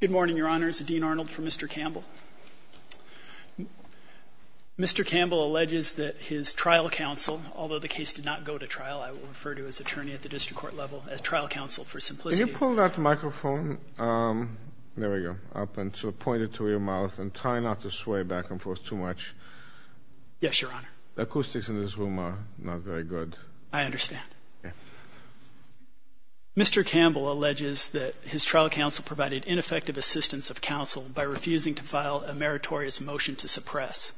Good morning, your honors. Dean Arnold for Mr. Campbell. Mr. Campbell alleges that his trial counsel, although the case did not go to trial, I will refer to his attorney at the district court level as trial counsel for simplicity. Can you pull that microphone up and point it to your mouth and try not to sway back and forth too much? Yes, your honor. The acoustics in this room are not very good. I understand. Mr. Campbell alleges that his trial counsel provided ineffective assistance of counsel by refusing to file a meritorious motion to suppress.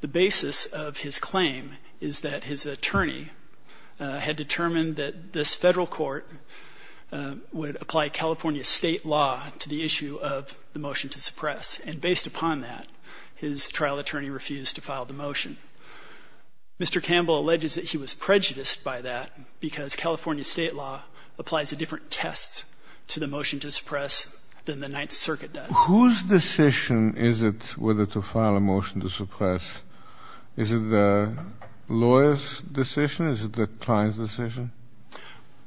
The basis of his claim is that his attorney had determined that this federal court would apply California state law to the issue of the motion to suppress. And based upon that, his trial attorney refused to file the motion. Mr. Campbell alleges that he was prejudiced by that because California state law applies a different test to the motion to suppress than the Ninth Circuit does. Whose decision is it whether to file a motion to suppress? Is it the lawyer's decision? Is it the client's decision?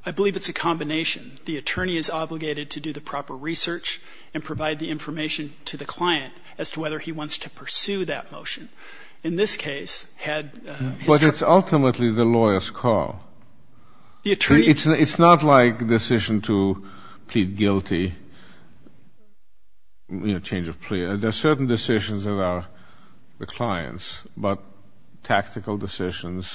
I believe it's a combination. The attorney is obligated to do the proper research and to whether he wants to pursue that motion. In this case, had his trial attorney But it's ultimately the lawyer's call. The attorney It's not like a decision to plead guilty, you know, change of plea. There are certain decisions that are the client's, but tactical decisions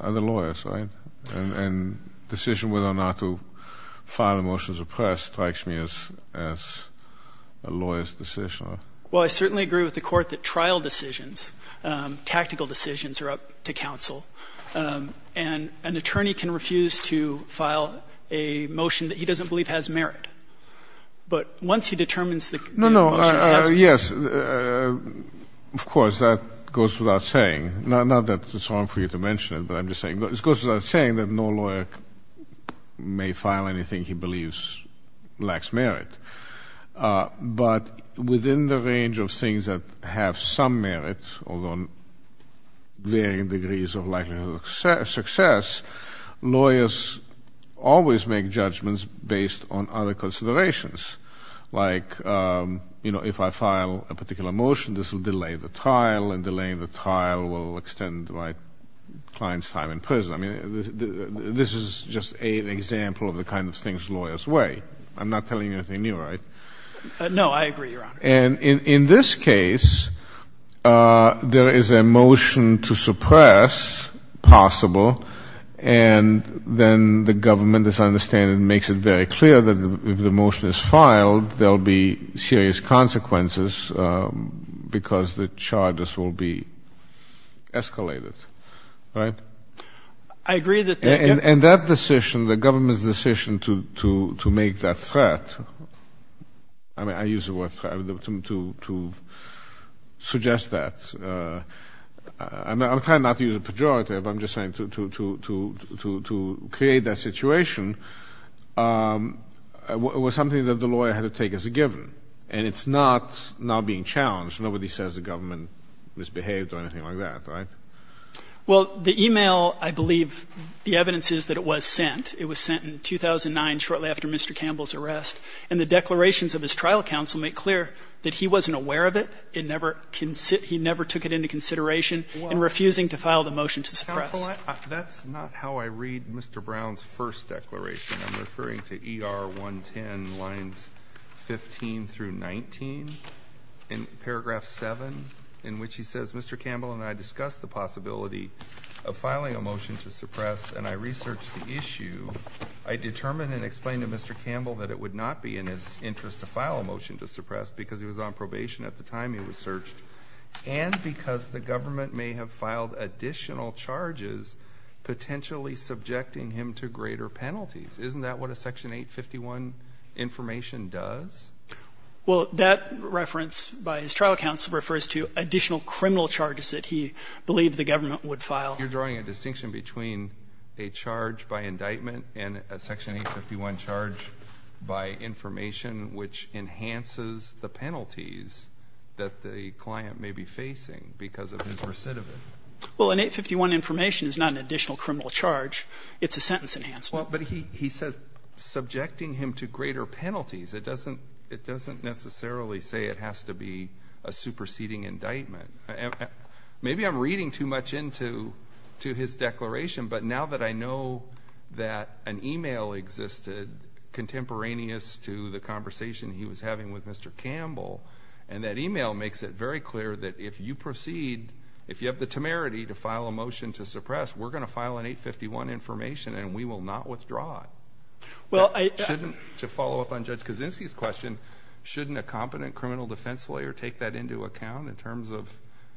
are the lawyer's, right? And decision whether or not to file a motion to suppress strikes me as a lawyer's decision. Well, I certainly agree with the Court that trial decisions, tactical decisions are up to counsel. And an attorney can refuse to file a motion that he doesn't believe has merit. But once he determines the motion, he has to No, no. Yes. Of course, that goes without saying, not that it's wrong for you to mention it, but I'm just saying, it goes without saying that no lawyer may file anything he believes lacks merit. But within the range of things that have some merit, although varying degrees of likelihood of success, lawyers always make judgments based on other considerations. Like, you know, if I file a particular motion, this will delay the trial, and delaying the trial will extend my client's time in prison. I mean, this is just an example of the kind of things lawyers weigh. I'm not telling you anything new, right? No, I agree, Your Honor. And in this case, there is a motion to suppress possible, and then the government, as I understand it, makes it very clear that if the motion is filed, there'll be serious consequences because the charges will be escalated, right? I agree that the And that decision, the government's decision to make that threat, I mean, I use the word threat to suggest that. I'm trying not to use a pejorative. I'm just saying to create that situation was something that the lawyer had to take as a given. And it's not now being challenged. Nobody says the government misbehaved or anything like that, right? Well, the email, I believe the evidence is that it was sent. It was sent in 2009, shortly after Mr. Campbell's arrest. And the declarations of his trial counsel make clear that he wasn't aware of it. It never — he never took it into consideration in refusing to file the motion to suppress. Counsel, that's not how I read Mr. Brown's first declaration. I'm referring to ER 110 lines 15 through 19, in paragraph 7, in which he says, Mr. Campbell and I discussed the possibility of filing a motion to suppress, and I researched the issue. I determined and explained to Mr. Campbell that it would not be in his interest to file a motion to suppress because he was on probation at the time he was searched, and because the government may have filed additional charges potentially subjecting him to greater penalties. Isn't that what a Section 851 information does? Well, that reference by his trial counsel refers to additional criminal charges that he believed the government would file. You're drawing a distinction between a charge by indictment and a Section 851 charge by information which enhances the penalties that the client may be facing because of his recidivism. Well, an 851 information is not an additional criminal charge. It's a sentence enhancement. But he says subjecting him to greater penalties. It doesn't necessarily say it has to be a superseding indictment. Maybe I'm reading too much into his declaration, but now that I know that an email existed contemporaneous to the conversation he was having with Mr. Campbell, and that email makes it very clear that if you proceed, if you have the temerity to file a motion to suppress, we're going to file an 851 information and we will not withdraw it. Well, I Shouldn't, to follow up on Judge Kaczynski's question, shouldn't a competent criminal defense lawyer take that into account in terms of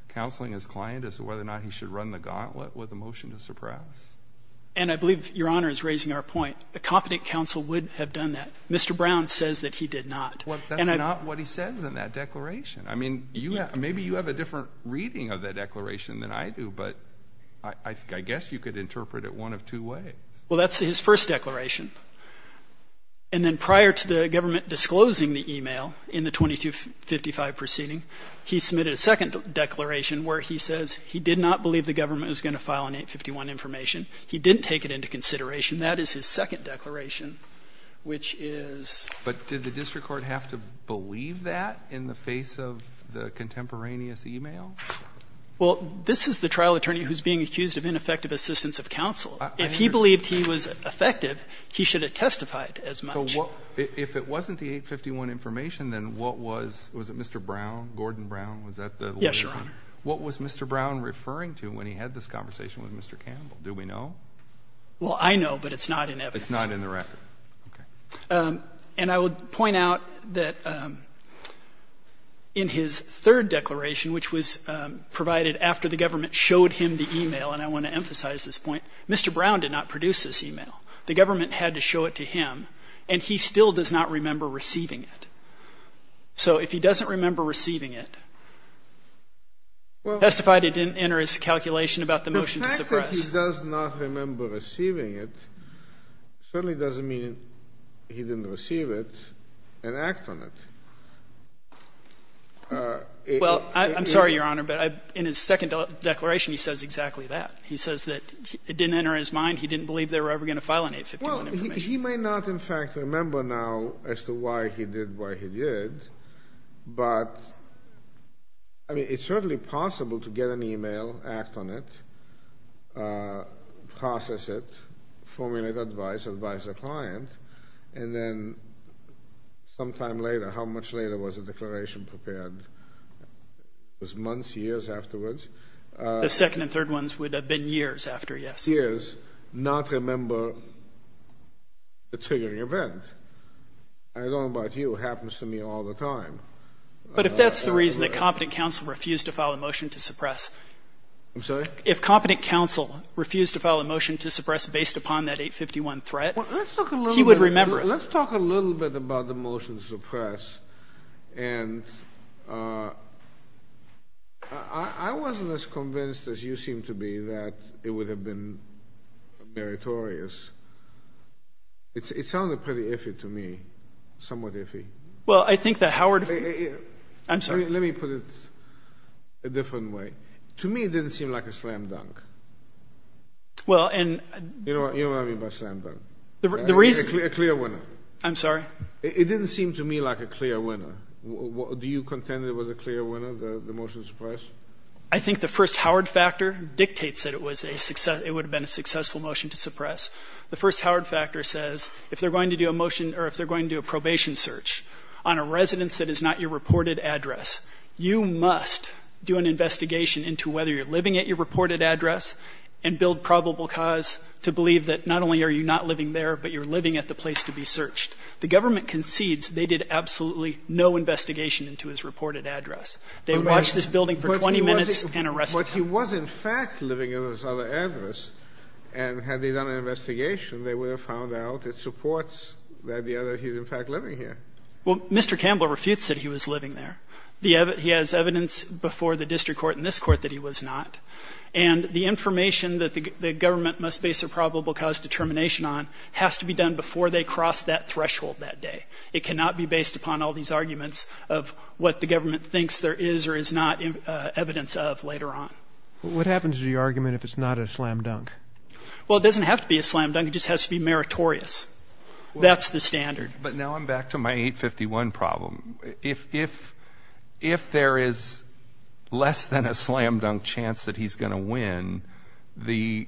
counseling his client as to whether or not he should run the gauntlet with a motion to suppress? And I believe Your Honor is raising our point. A competent counsel would have done that. Mr. Brown says that he did not. Well, that's not what he says in that declaration. I mean, you have — maybe you have a different reading of that declaration than I do, but I guess you could interpret it one of two ways. Well, that's his first declaration. And then prior to the government disclosing the email in the 2255 proceeding, he submitted a second declaration where he says he did not believe the government was going to file an 851 information. He didn't take it into consideration. That is his second declaration, which is — But did the district court have to believe that in the face of the contemporaneous email? Well, this is the trial attorney who's being accused of ineffective assistance of counsel. If he believed he was effective, he should have testified as much. So what — if it wasn't the 851 information, then what was — was it Mr. Brown, Gordon Brown, was that the — Yes, Your Honor. What was Mr. Brown referring to when he had this conversation with Mr. Campbell? Do we know? Well, I know, but it's not in evidence. It's not in the record. Okay. And I would point out that in his third declaration, which was provided after the government showed him the email, and I want to emphasize this point, Mr. Brown did not produce this email. The government had to show it to him, and he still does not remember receiving it. So if he doesn't remember receiving it, testify that it didn't enter his calculation about the motion to suppress. The fact that he does not remember receiving it certainly doesn't mean he didn't receive it and act on it. Well, I'm sorry, Your Honor, but in his second declaration, he says exactly that. He says that it didn't enter his mind. He didn't believe they were ever going to file an 851 information. Well, he may not, in fact, remember now as to why he did what he did, but, I mean, it's certainly possible to get an email, act on it, process it, formulate advice, advise the client, and then sometime later — how much later was the declaration prepared? Was months, years afterwards? The second and third ones would have been years after, yes. Years, not remember the triggering event. I don't know about you. It happens to me all the time. But if that's the reason that competent counsel refused to file a motion to suppress — I'm sorry? If competent counsel refused to file a motion to suppress based upon that 851 threat, he would remember it. Let's talk a little bit about the motion to suppress. And I wasn't as convinced as you seem to be that it would have been meritorious. It sounded pretty iffy to me, somewhat iffy. Well, I think that Howard — I'm sorry. Let me put it a different way. To me, it didn't seem like a slam dunk. Well, and — You know what I mean by slam dunk? The reason — A clear winner. I'm sorry? It didn't seem to me like a clear winner. Do you contend it was a clear winner, the motion to suppress? I think the first Howard factor dictates that it was a — it would have been a successful motion to suppress. The first Howard factor says, if they're going to do a motion — or if they're going to do a probation search on a residence that is not your reported address, you must do an investigation into whether you're living at your reported address and at the place to be searched. The government concedes they did absolutely no investigation into his reported address. They watched this building for 20 minutes and arrested him. But he was, in fact, living at his other address. And had they done an investigation, they would have found out it supports the idea that he's, in fact, living here. Well, Mr. Campbell refutes that he was living there. He has evidence before the district court and this court that he was not. And the information that the government must base a probable cause determination on has to be done before they cross that threshold that day. It cannot be based upon all these arguments of what the government thinks there is or is not evidence of later on. What happens to the argument if it's not a slam dunk? Well, it doesn't have to be a slam dunk. It just has to be meritorious. That's the standard. But now I'm back to my 851 problem. If there is less than a slam dunk chance that he's going to win, the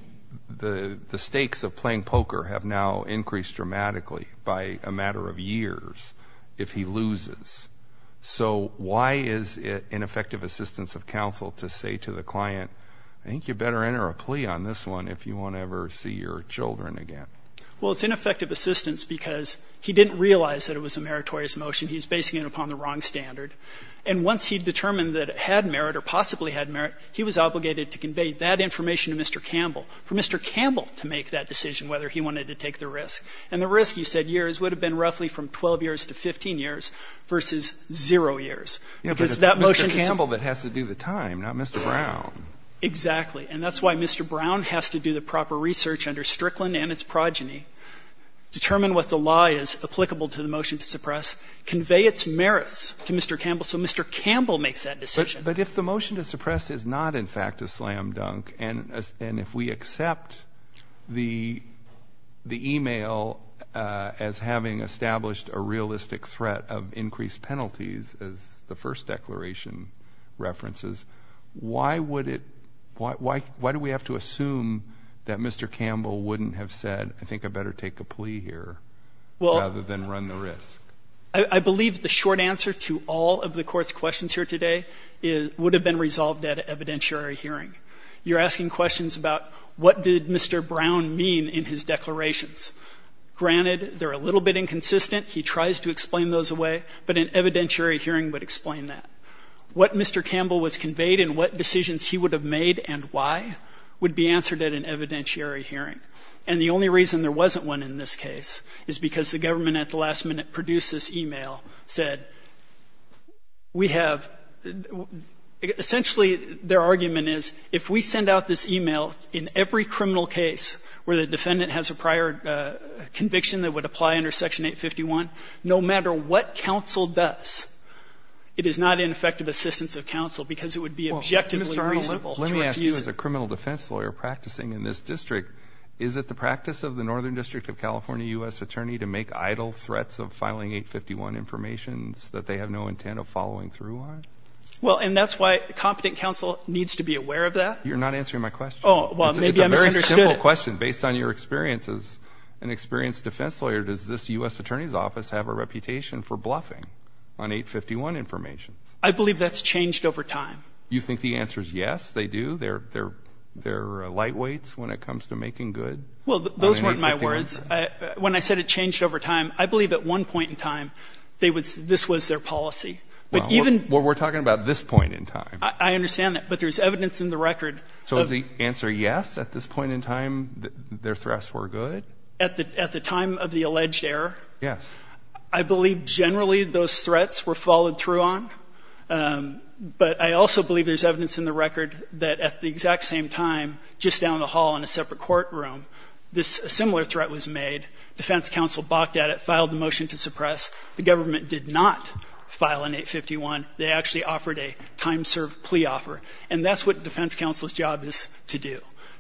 stakes of playing poker have now increased dramatically by a matter of years if he loses. So why is it ineffective assistance of counsel to say to the client, I think you better enter a plea on this one if you want to ever see your children again? Well, it's ineffective assistance because he didn't realize that it was a meritorious motion. He's basing it upon the wrong standard. And once he determined that it had merit or not, he was obligated to convey that information to Mr. Campbell, for Mr. Campbell to make that decision whether he wanted to take the risk. And the risk, you said years, would have been roughly from 12 years to 15 years versus zero years, because that motion to suppress But it's Mr. Campbell that has to do the time, not Mr. Brown. Exactly. And that's why Mr. Brown has to do the proper research under Strickland and its progeny, determine what the law is applicable to the motion to suppress, convey its merits to Mr. Campbell so Mr. Campbell makes that decision. But if the motion to suppress is not, in fact, a slam dunk, and if we accept the email as having established a realistic threat of increased penalties, as the first declaration references, why do we have to assume that Mr. Campbell wouldn't have said, I think I better take a plea here rather than run the risk? I believe the short answer to all of the Court's questions here today would have been resolved at an evidentiary hearing. You're asking questions about what did Mr. Brown mean in his declarations. Granted, they're a little bit inconsistent. He tries to explain those away, but an evidentiary hearing would explain that. What Mr. Campbell was conveyed and what decisions he would have made and why would be answered at an evidentiary hearing. And the only reason there wasn't one in this case is because the government at the last minute produced this email, said, we have, essentially their argument is, if we send out this email in every criminal case where the defendant has a prior conviction that would apply under Section 851, no matter what counsel does, it is not an effective assistance of counsel because it would be objectively reasonable to refuse it. Let me ask you as a criminal defense lawyer practicing in this district, is it the idle threats of filing 851 information that they have no intent of following through on? Well, and that's why competent counsel needs to be aware of that. You're not answering my question. Oh, well, maybe I misunderstood it. It's a very simple question based on your experience as an experienced defense lawyer. Does this U.S. Attorney's Office have a reputation for bluffing on 851 information? I believe that's changed over time. You think the answer is yes, they do? They're lightweights when it comes to making good on an 851? Well, those weren't my words. When I said it changed over time, I believe at one point in time, they would say this was their policy. Well, we're talking about this point in time. I understand that. But there's evidence in the record. So is the answer yes, at this point in time, their threats were good? At the time of the alleged error? Yes. I believe generally those threats were followed through on. But I also believe there's just down the hall in a separate courtroom, a similar threat was made. Defense counsel balked at it, filed a motion to suppress. The government did not file an 851. They actually offered a time-served plea offer. And that's what defense counsel's job is to do,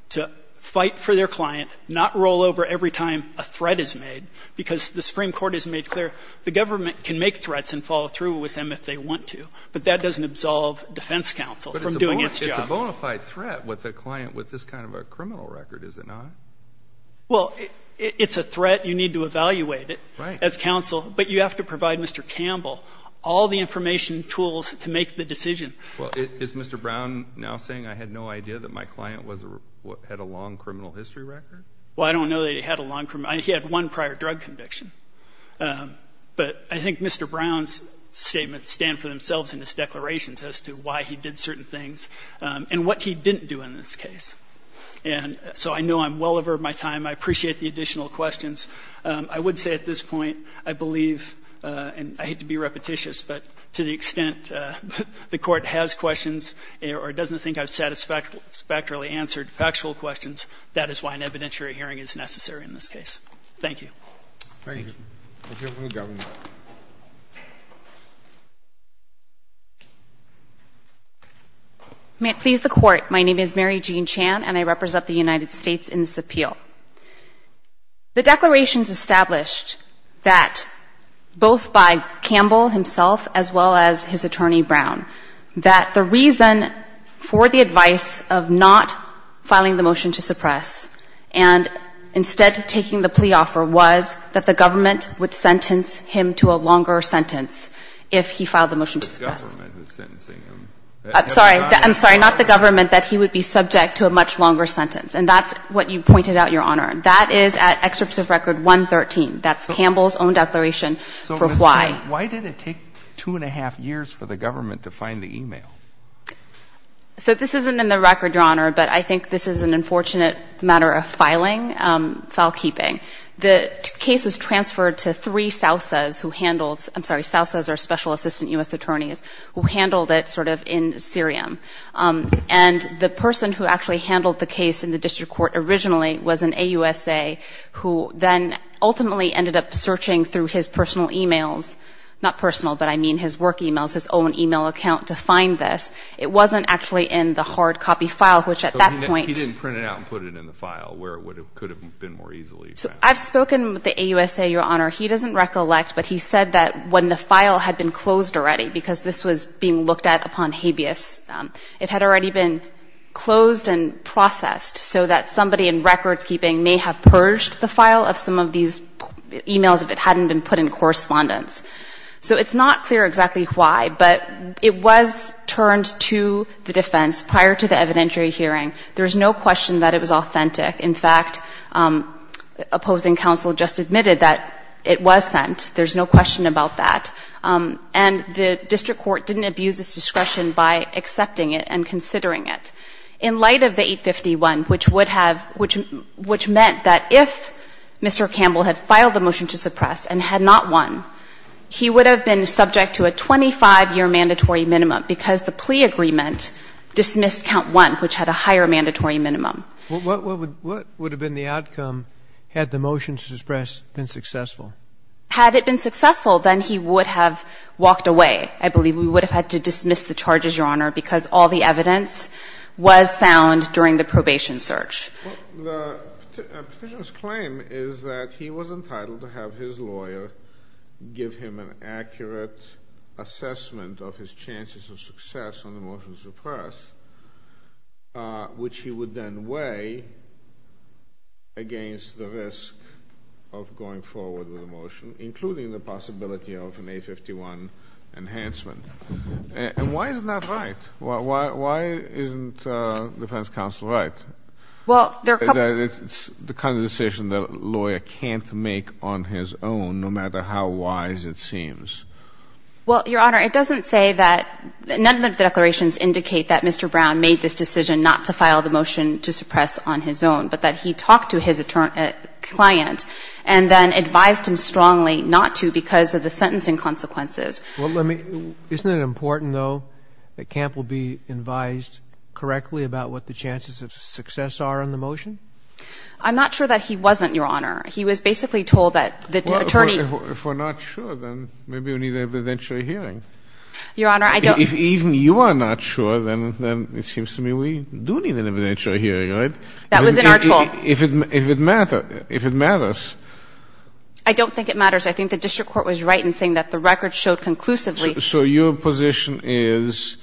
to fight for their client, not roll over every time a threat is made. Because the Supreme Court has made clear the government can make threats and follow through with them if they want to. But that doesn't absolve defense counsel from doing its job. It's a bona fide threat with a client with this kind of a criminal record, is it not? Well, it's a threat. You need to evaluate it as counsel. But you have to provide Mr. Campbell all the information, tools to make the decision. Well, is Mr. Brown now saying I had no idea that my client had a long criminal history record? Well, I don't know that he had a long criminal history. He had one prior drug conviction. But I think Mr. Brown's statements stand for themselves in his declarations as to why he did certain things and what he didn't do in this case. And so I know I'm well over my time. I appreciate the additional questions. I would say at this point, I believe, and I hate to be repetitious, but to the extent the Court has questions or doesn't think I've satisfactorily answered factual questions, that is why an evidentiary hearing is necessary in this case. Thank you. Thank you. We'll hear from the governor. May it please the Court, my name is Mary Jean Chan and I represent the United States in this appeal. The declarations established that both by Campbell himself as well as his attorney Brown, that the reason for the advice of not filing the motion to suppress and instead taking the plea offer was that the government would sentence him to a longer sentence if he filed the motion to suppress. The government is sentencing him. I'm sorry, I'm sorry, not the government, that he would be subject to a much longer sentence. And that's what you pointed out, Your Honor. That is at Excerpt of Record 113. That's Campbell's own declaration for why. So Ms. Chan, why did it take two and a half years for the government to find the e-mail? So this isn't in the record, Your Honor, but I think this is an unfortunate matter of filing, file keeping. The case was transferred to three Sousas who handled, I'm sorry, Sousas are special assistant U.S. attorneys, who handled it sort of in Syriam. And the person who actually handled the case in the district court originally was an AUSA who then ultimately ended up searching through his personal e-mails, not personal, but I mean his work e-mails, his own e-mail account to find this. It wasn't actually in the hard copy file, which at that point He didn't print it out and put it in the file where it could have been more easily found. So I've spoken with the AUSA, Your Honor. He doesn't recollect, but he said that when the file had been closed already, because this was being looked at upon habeas, it had already been closed and processed so that somebody in records keeping may have purged the file of some of these e-mails if it hadn't been put in correspondence. So it's not clear exactly why, but it was turned to the defense prior to the evidentiary hearing. There's no question that it was authentic. In fact, opposing counsel just admitted that it was sent. There's no question about that. And the district court didn't abuse its discretion by accepting it and considering it. In light of the 851, which would have ‑‑ which meant that if Mr. Campbell had filed the motion to suppress and had not won, he would have been subject to a 25‑year mandatory minimum because the plea agreement dismissed count one, which had a higher mandatory minimum. What would have been the outcome had the motion to suppress been successful? Had it been successful, then he would have walked away. I believe we would have had to dismiss the charges, Your Honor, because all the evidence was found during the probation search. The petitioner's claim is that he was entitled to have his lawyer give him an accurate assessment of his chances of success on the motion to suppress, which he would then weigh against the risk of going forward with the motion, including the possibility of an 851 enhancement. And why isn't that right? Why isn't defense counsel right? Well, there are a couple of ‑‑ It's the kind of decision that a lawyer can't make on his own, no matter how wise it seems. Well, Your Honor, it doesn't say that ‑‑ none of the declarations indicate that Mr. Brown made this decision not to file the motion to suppress on his own, but that he talked to his client and then advised him strongly not to because of the sentencing consequences. Well, let me ‑‑ isn't it important, though, that Campbell be advised correctly about what the chances of success are on the motion? I'm not sure that he wasn't, Your Honor. He was basically told that the attorney ‑‑ Well, if we're not sure, then maybe we need an evidentiary hearing. Your Honor, I don't ‑‑ If even you are not sure, then it seems to me we do need an evidentiary hearing, right? That was in our tool. If it matters. I don't think it matters. I think the district court was right in saying that the record showed conclusively ‑‑ So your position is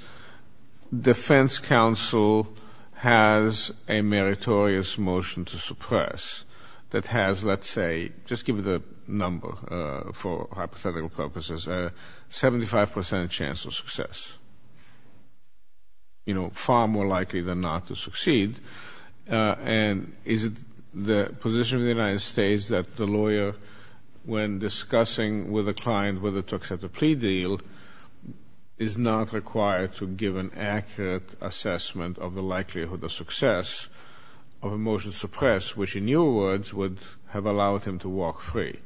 defense counsel has a meritorious motion to suppress that has, let's say, just give it a number for hypothetical purposes, 75 percent chance of success. You know, far more likely than not to succeed. And is it the position of the United States that the lawyer, when discussing with the client whether to accept a plea deal, is not required to give an accurate assessment of the likelihood of success of a motion to suppress, which in your words would have allowed him to walk free?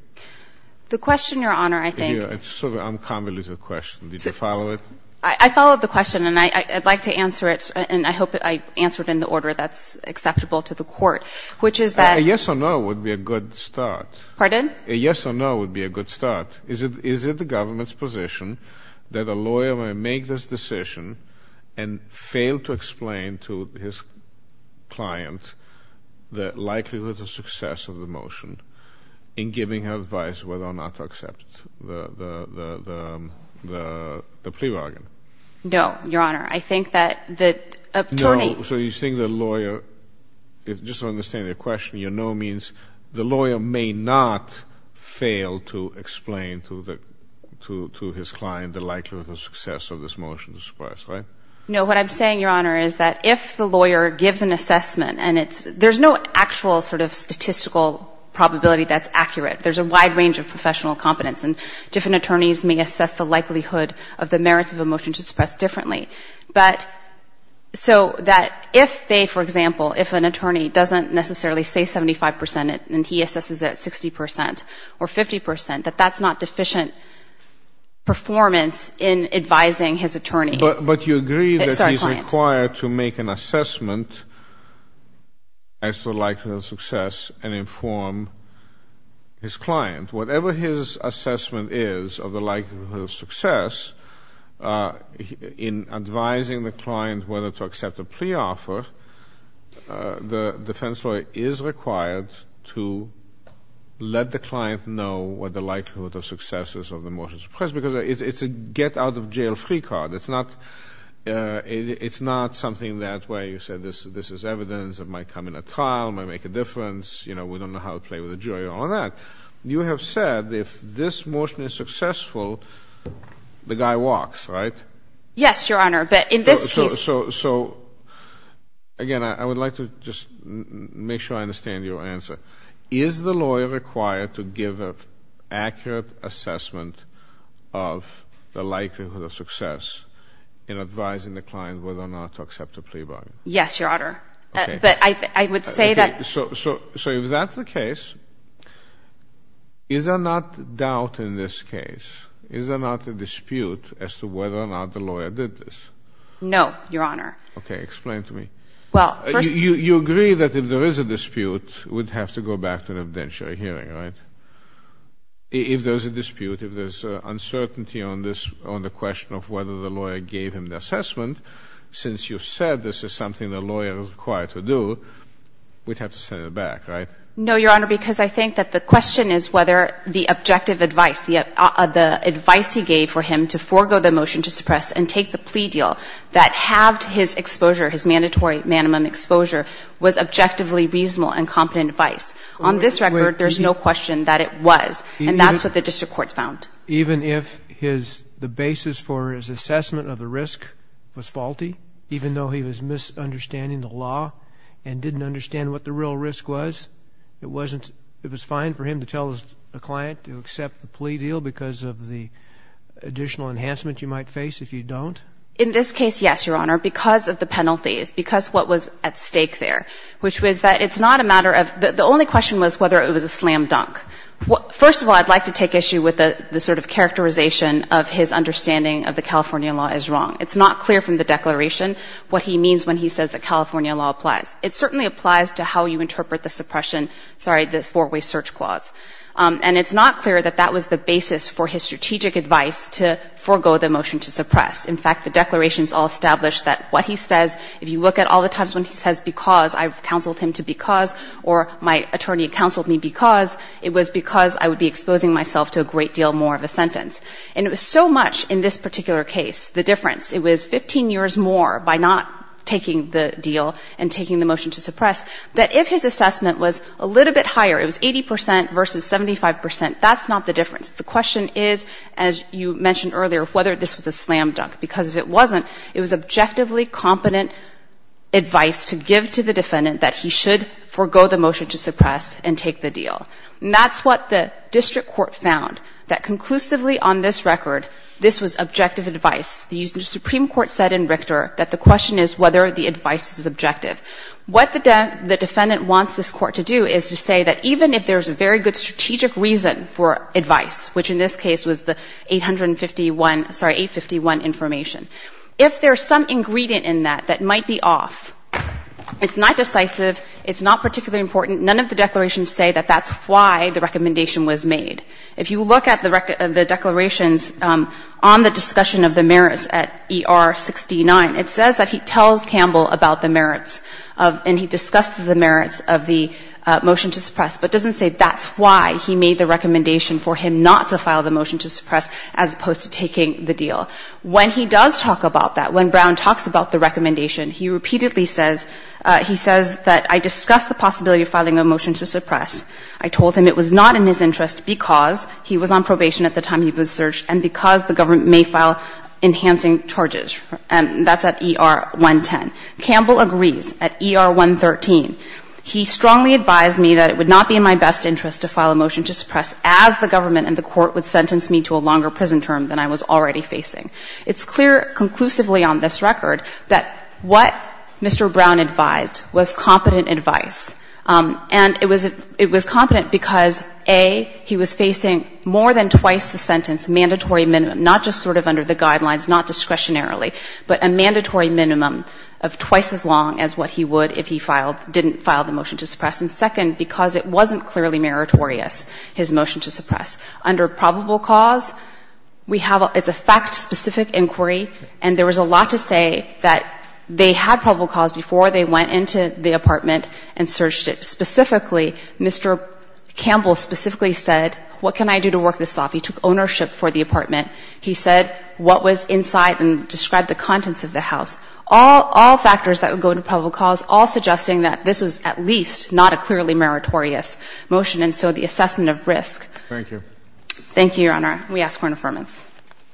The question, Your Honor, I think ‑‑ It's sort of an uncommunicative question. Did you follow it? I followed the question, and I'd like to answer it, and I hope I answered in the order that's acceptable to the court, which is that ‑‑ A yes or no would be a good start. Pardon? A yes or no would be a good start. Is it the government's position that a lawyer may make this decision and fail to explain to his client the likelihood of success of the motion in giving advice whether or not to accept the plea bargain? No, Your Honor. I think that the attorney ‑‑ No, so you think the lawyer, just to understand the question, your no means the lawyer may not fail to explain to his client the likelihood of success of this motion to suppress, right? No. What I'm saying, Your Honor, is that if the lawyer gives an assessment, and it's ‑‑ there's no actual sort of statistical probability that's accurate. There's a wide range of professional competence, and different attorneys may assess the likelihood of the merits of a motion to suppress differently. But so that if they, for example, if an attorney doesn't necessarily say 75 percent and he assesses it at 60 percent or 50 percent, that that's not deficient performance in advising his attorney. But you agree that he's required to make an assessment as to the likelihood of success and inform his client. Whatever his assessment is of the likelihood of success in advising the client whether to accept a plea offer, the defense lawyer is required to let the client know what the likelihood of success is of the motion to suppress, because it's a get‑out‑of‑jail‑free card. It's not something that way. You said this is evidence. It might come in a trial. It might make a difference. You know, we don't know how to play with a jury or all that. You have said if this motion is successful, the guy walks, right? Yes, Your Honor, but in this case So, again, I would like to just make sure I understand your answer. Is the lawyer required to give an accurate assessment of the likelihood of success in advising the client whether or not to accept a plea bargain? Yes, Your Honor. Okay. But I would say that Okay. So if that's the case, is there not doubt in this case, is there not a dispute as to whether or not the lawyer did this? No, Your Honor. Okay. Explain to me. Well, first You agree that if there is a dispute, we'd have to go back to an evidentiary hearing, right? If there's a dispute, if there's uncertainty on the question of whether the lawyer gave him the assessment, since you've said this is something the lawyer is required to do, we'd have to send it back, right? No, Your Honor, because I think that the question is whether the objective advice, the advice he gave for him to forego the motion to suppress and take the plea deal that halved his exposure, his mandatory minimum exposure, was objectively reasonable and competent advice. On this record, there's no question that it was, and that's what the district courts found. Even if his, the basis for his assessment of the risk was faulty, even though he was misunderstanding the law and didn't understand what the real risk was, it wasn't, it was fine for him to tell a client to accept the plea deal because of the additional enhancement you might face if you don't? In this case, yes, Your Honor, because of the penalties, because of what was at stake there, which was that it's not a matter of, the only question was whether it was a slam dunk. First of all, I'd like to take issue with the sort of characterization of his understanding of the California law as wrong. It's not clear from the declaration what he means when he says that California law applies. It certainly applies to how you And it's not clear that that was the basis for his strategic advice to forego the motion to suppress. In fact, the declarations all establish that what he says, if you look at all the times when he says because, I've counseled him to because, or my attorney counseled me because, it was because I would be exposing myself to a great deal more of a sentence. And it was so much, in this particular case, the difference, it was 15 years more by not taking the deal and taking the motion to suppress, that if his assessment was a little bit higher, it was 80 percent versus 75 percent, that's not the difference. The question is, as you mentioned earlier, whether this was a slam dunk, because if it wasn't, it was objectively competent advice to give to the defendant that he should forego the motion to suppress and take the deal. And that's what the district court found, that conclusively on this record, this was objective advice. The Supreme Court said in Richter that the question is whether the advice is objective. What the defendant wants this Court to do is to say that even if there's a very good strategic reason for advice, which in this case was the 851, sorry, 851 information, if there's some ingredient in that that might be off, it's not decisive, it's not particularly important, none of the declarations say that that's why the recommendation was made. If you look at the declarations on the discussion of the merits at ER 69, it says that he tells Campbell about the merits and he discussed the merits of the motion to suppress, but doesn't say that's why he made the recommendation for him not to file the motion to suppress as opposed to taking the deal. When he does talk about that, when Brown talks about the recommendation, he repeatedly says, he says that I discussed the possibility of filing a motion to suppress. I told him it was not in his interest because he was on probation at the time he was searched and because the government may file enhancing charges. And that's at ER 110. Campbell agrees at ER 113. He strongly advised me that it would not be in my best interest to file a motion to suppress as the government and the Court would sentence me to a longer prison term than I was already facing. It's clear conclusively on this record that what Mr. Brown advised was competent advice. And it was – it was competent because, A, he was facing more than twice the sentence, mandatory minimum, not just sort of under the guidelines, not discretionarily, but a mandatory minimum of twice as long as what he would if he filed – didn't file the motion to suppress. And, second, because it wasn't clearly meritorious, his motion to suppress. Under probable cause, we have – it's a fact-specific inquiry, and there was a lot to say that they had probable cause before they went into the apartment and searched it. Specifically, Mr. Campbell specifically said, what can I do to work this off? He took ownership for the apartment. He said what was inside and described the contents of the house. All – all factors that would go into probable cause, all suggesting that this was at least not a clearly meritorious motion, and so the assessment of risk. Thank you. Thank you, Your Honor. We ask for an affirmance.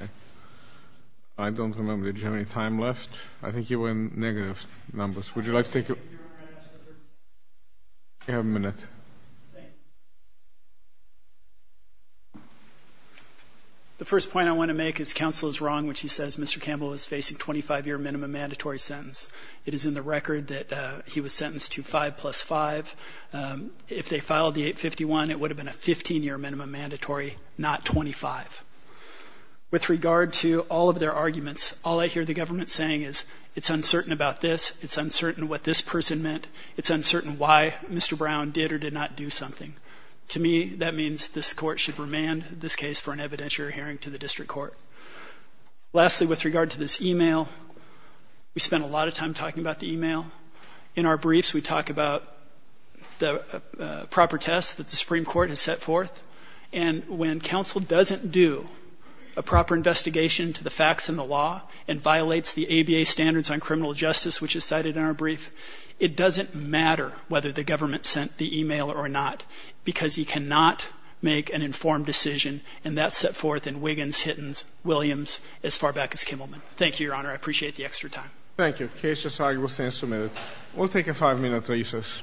Okay. I don't remember. Did you have any time left? I think you were in negative numbers. Would you like to take a – You have a minute. Thanks. The first point I want to make is counsel is wrong when she says Mr. Campbell is facing 25-year minimum mandatory sentence. It is in the record that he was sentenced to 5 plus 5. If they filed the 851, it would have been a 15-year minimum mandatory, not 25. With regard to all of their arguments, all I hear the government saying is, it's uncertain about this. It's uncertain what this person meant. It's uncertain why Mr. Brown did or did not do something. To me, that means this court should remand this case for an evidentiary hearing to the district court. Lastly, with regard to this email, we spent a lot of time talking about the email. In our briefs, we talk about the proper test that the Supreme Court has set forth, and when counsel doesn't do a proper investigation to the facts and the law and violates the justice which is cited in our brief, it doesn't matter whether the government sent the email or not because he cannot make an informed decision, and that's set forth in Wiggins, Hittins, Williams, as far back as Kimmelman. Thank you, Your Honor. I appreciate the extra time. Thank you. The case is argued. We'll stand for a minute. We'll take a five-minute recess.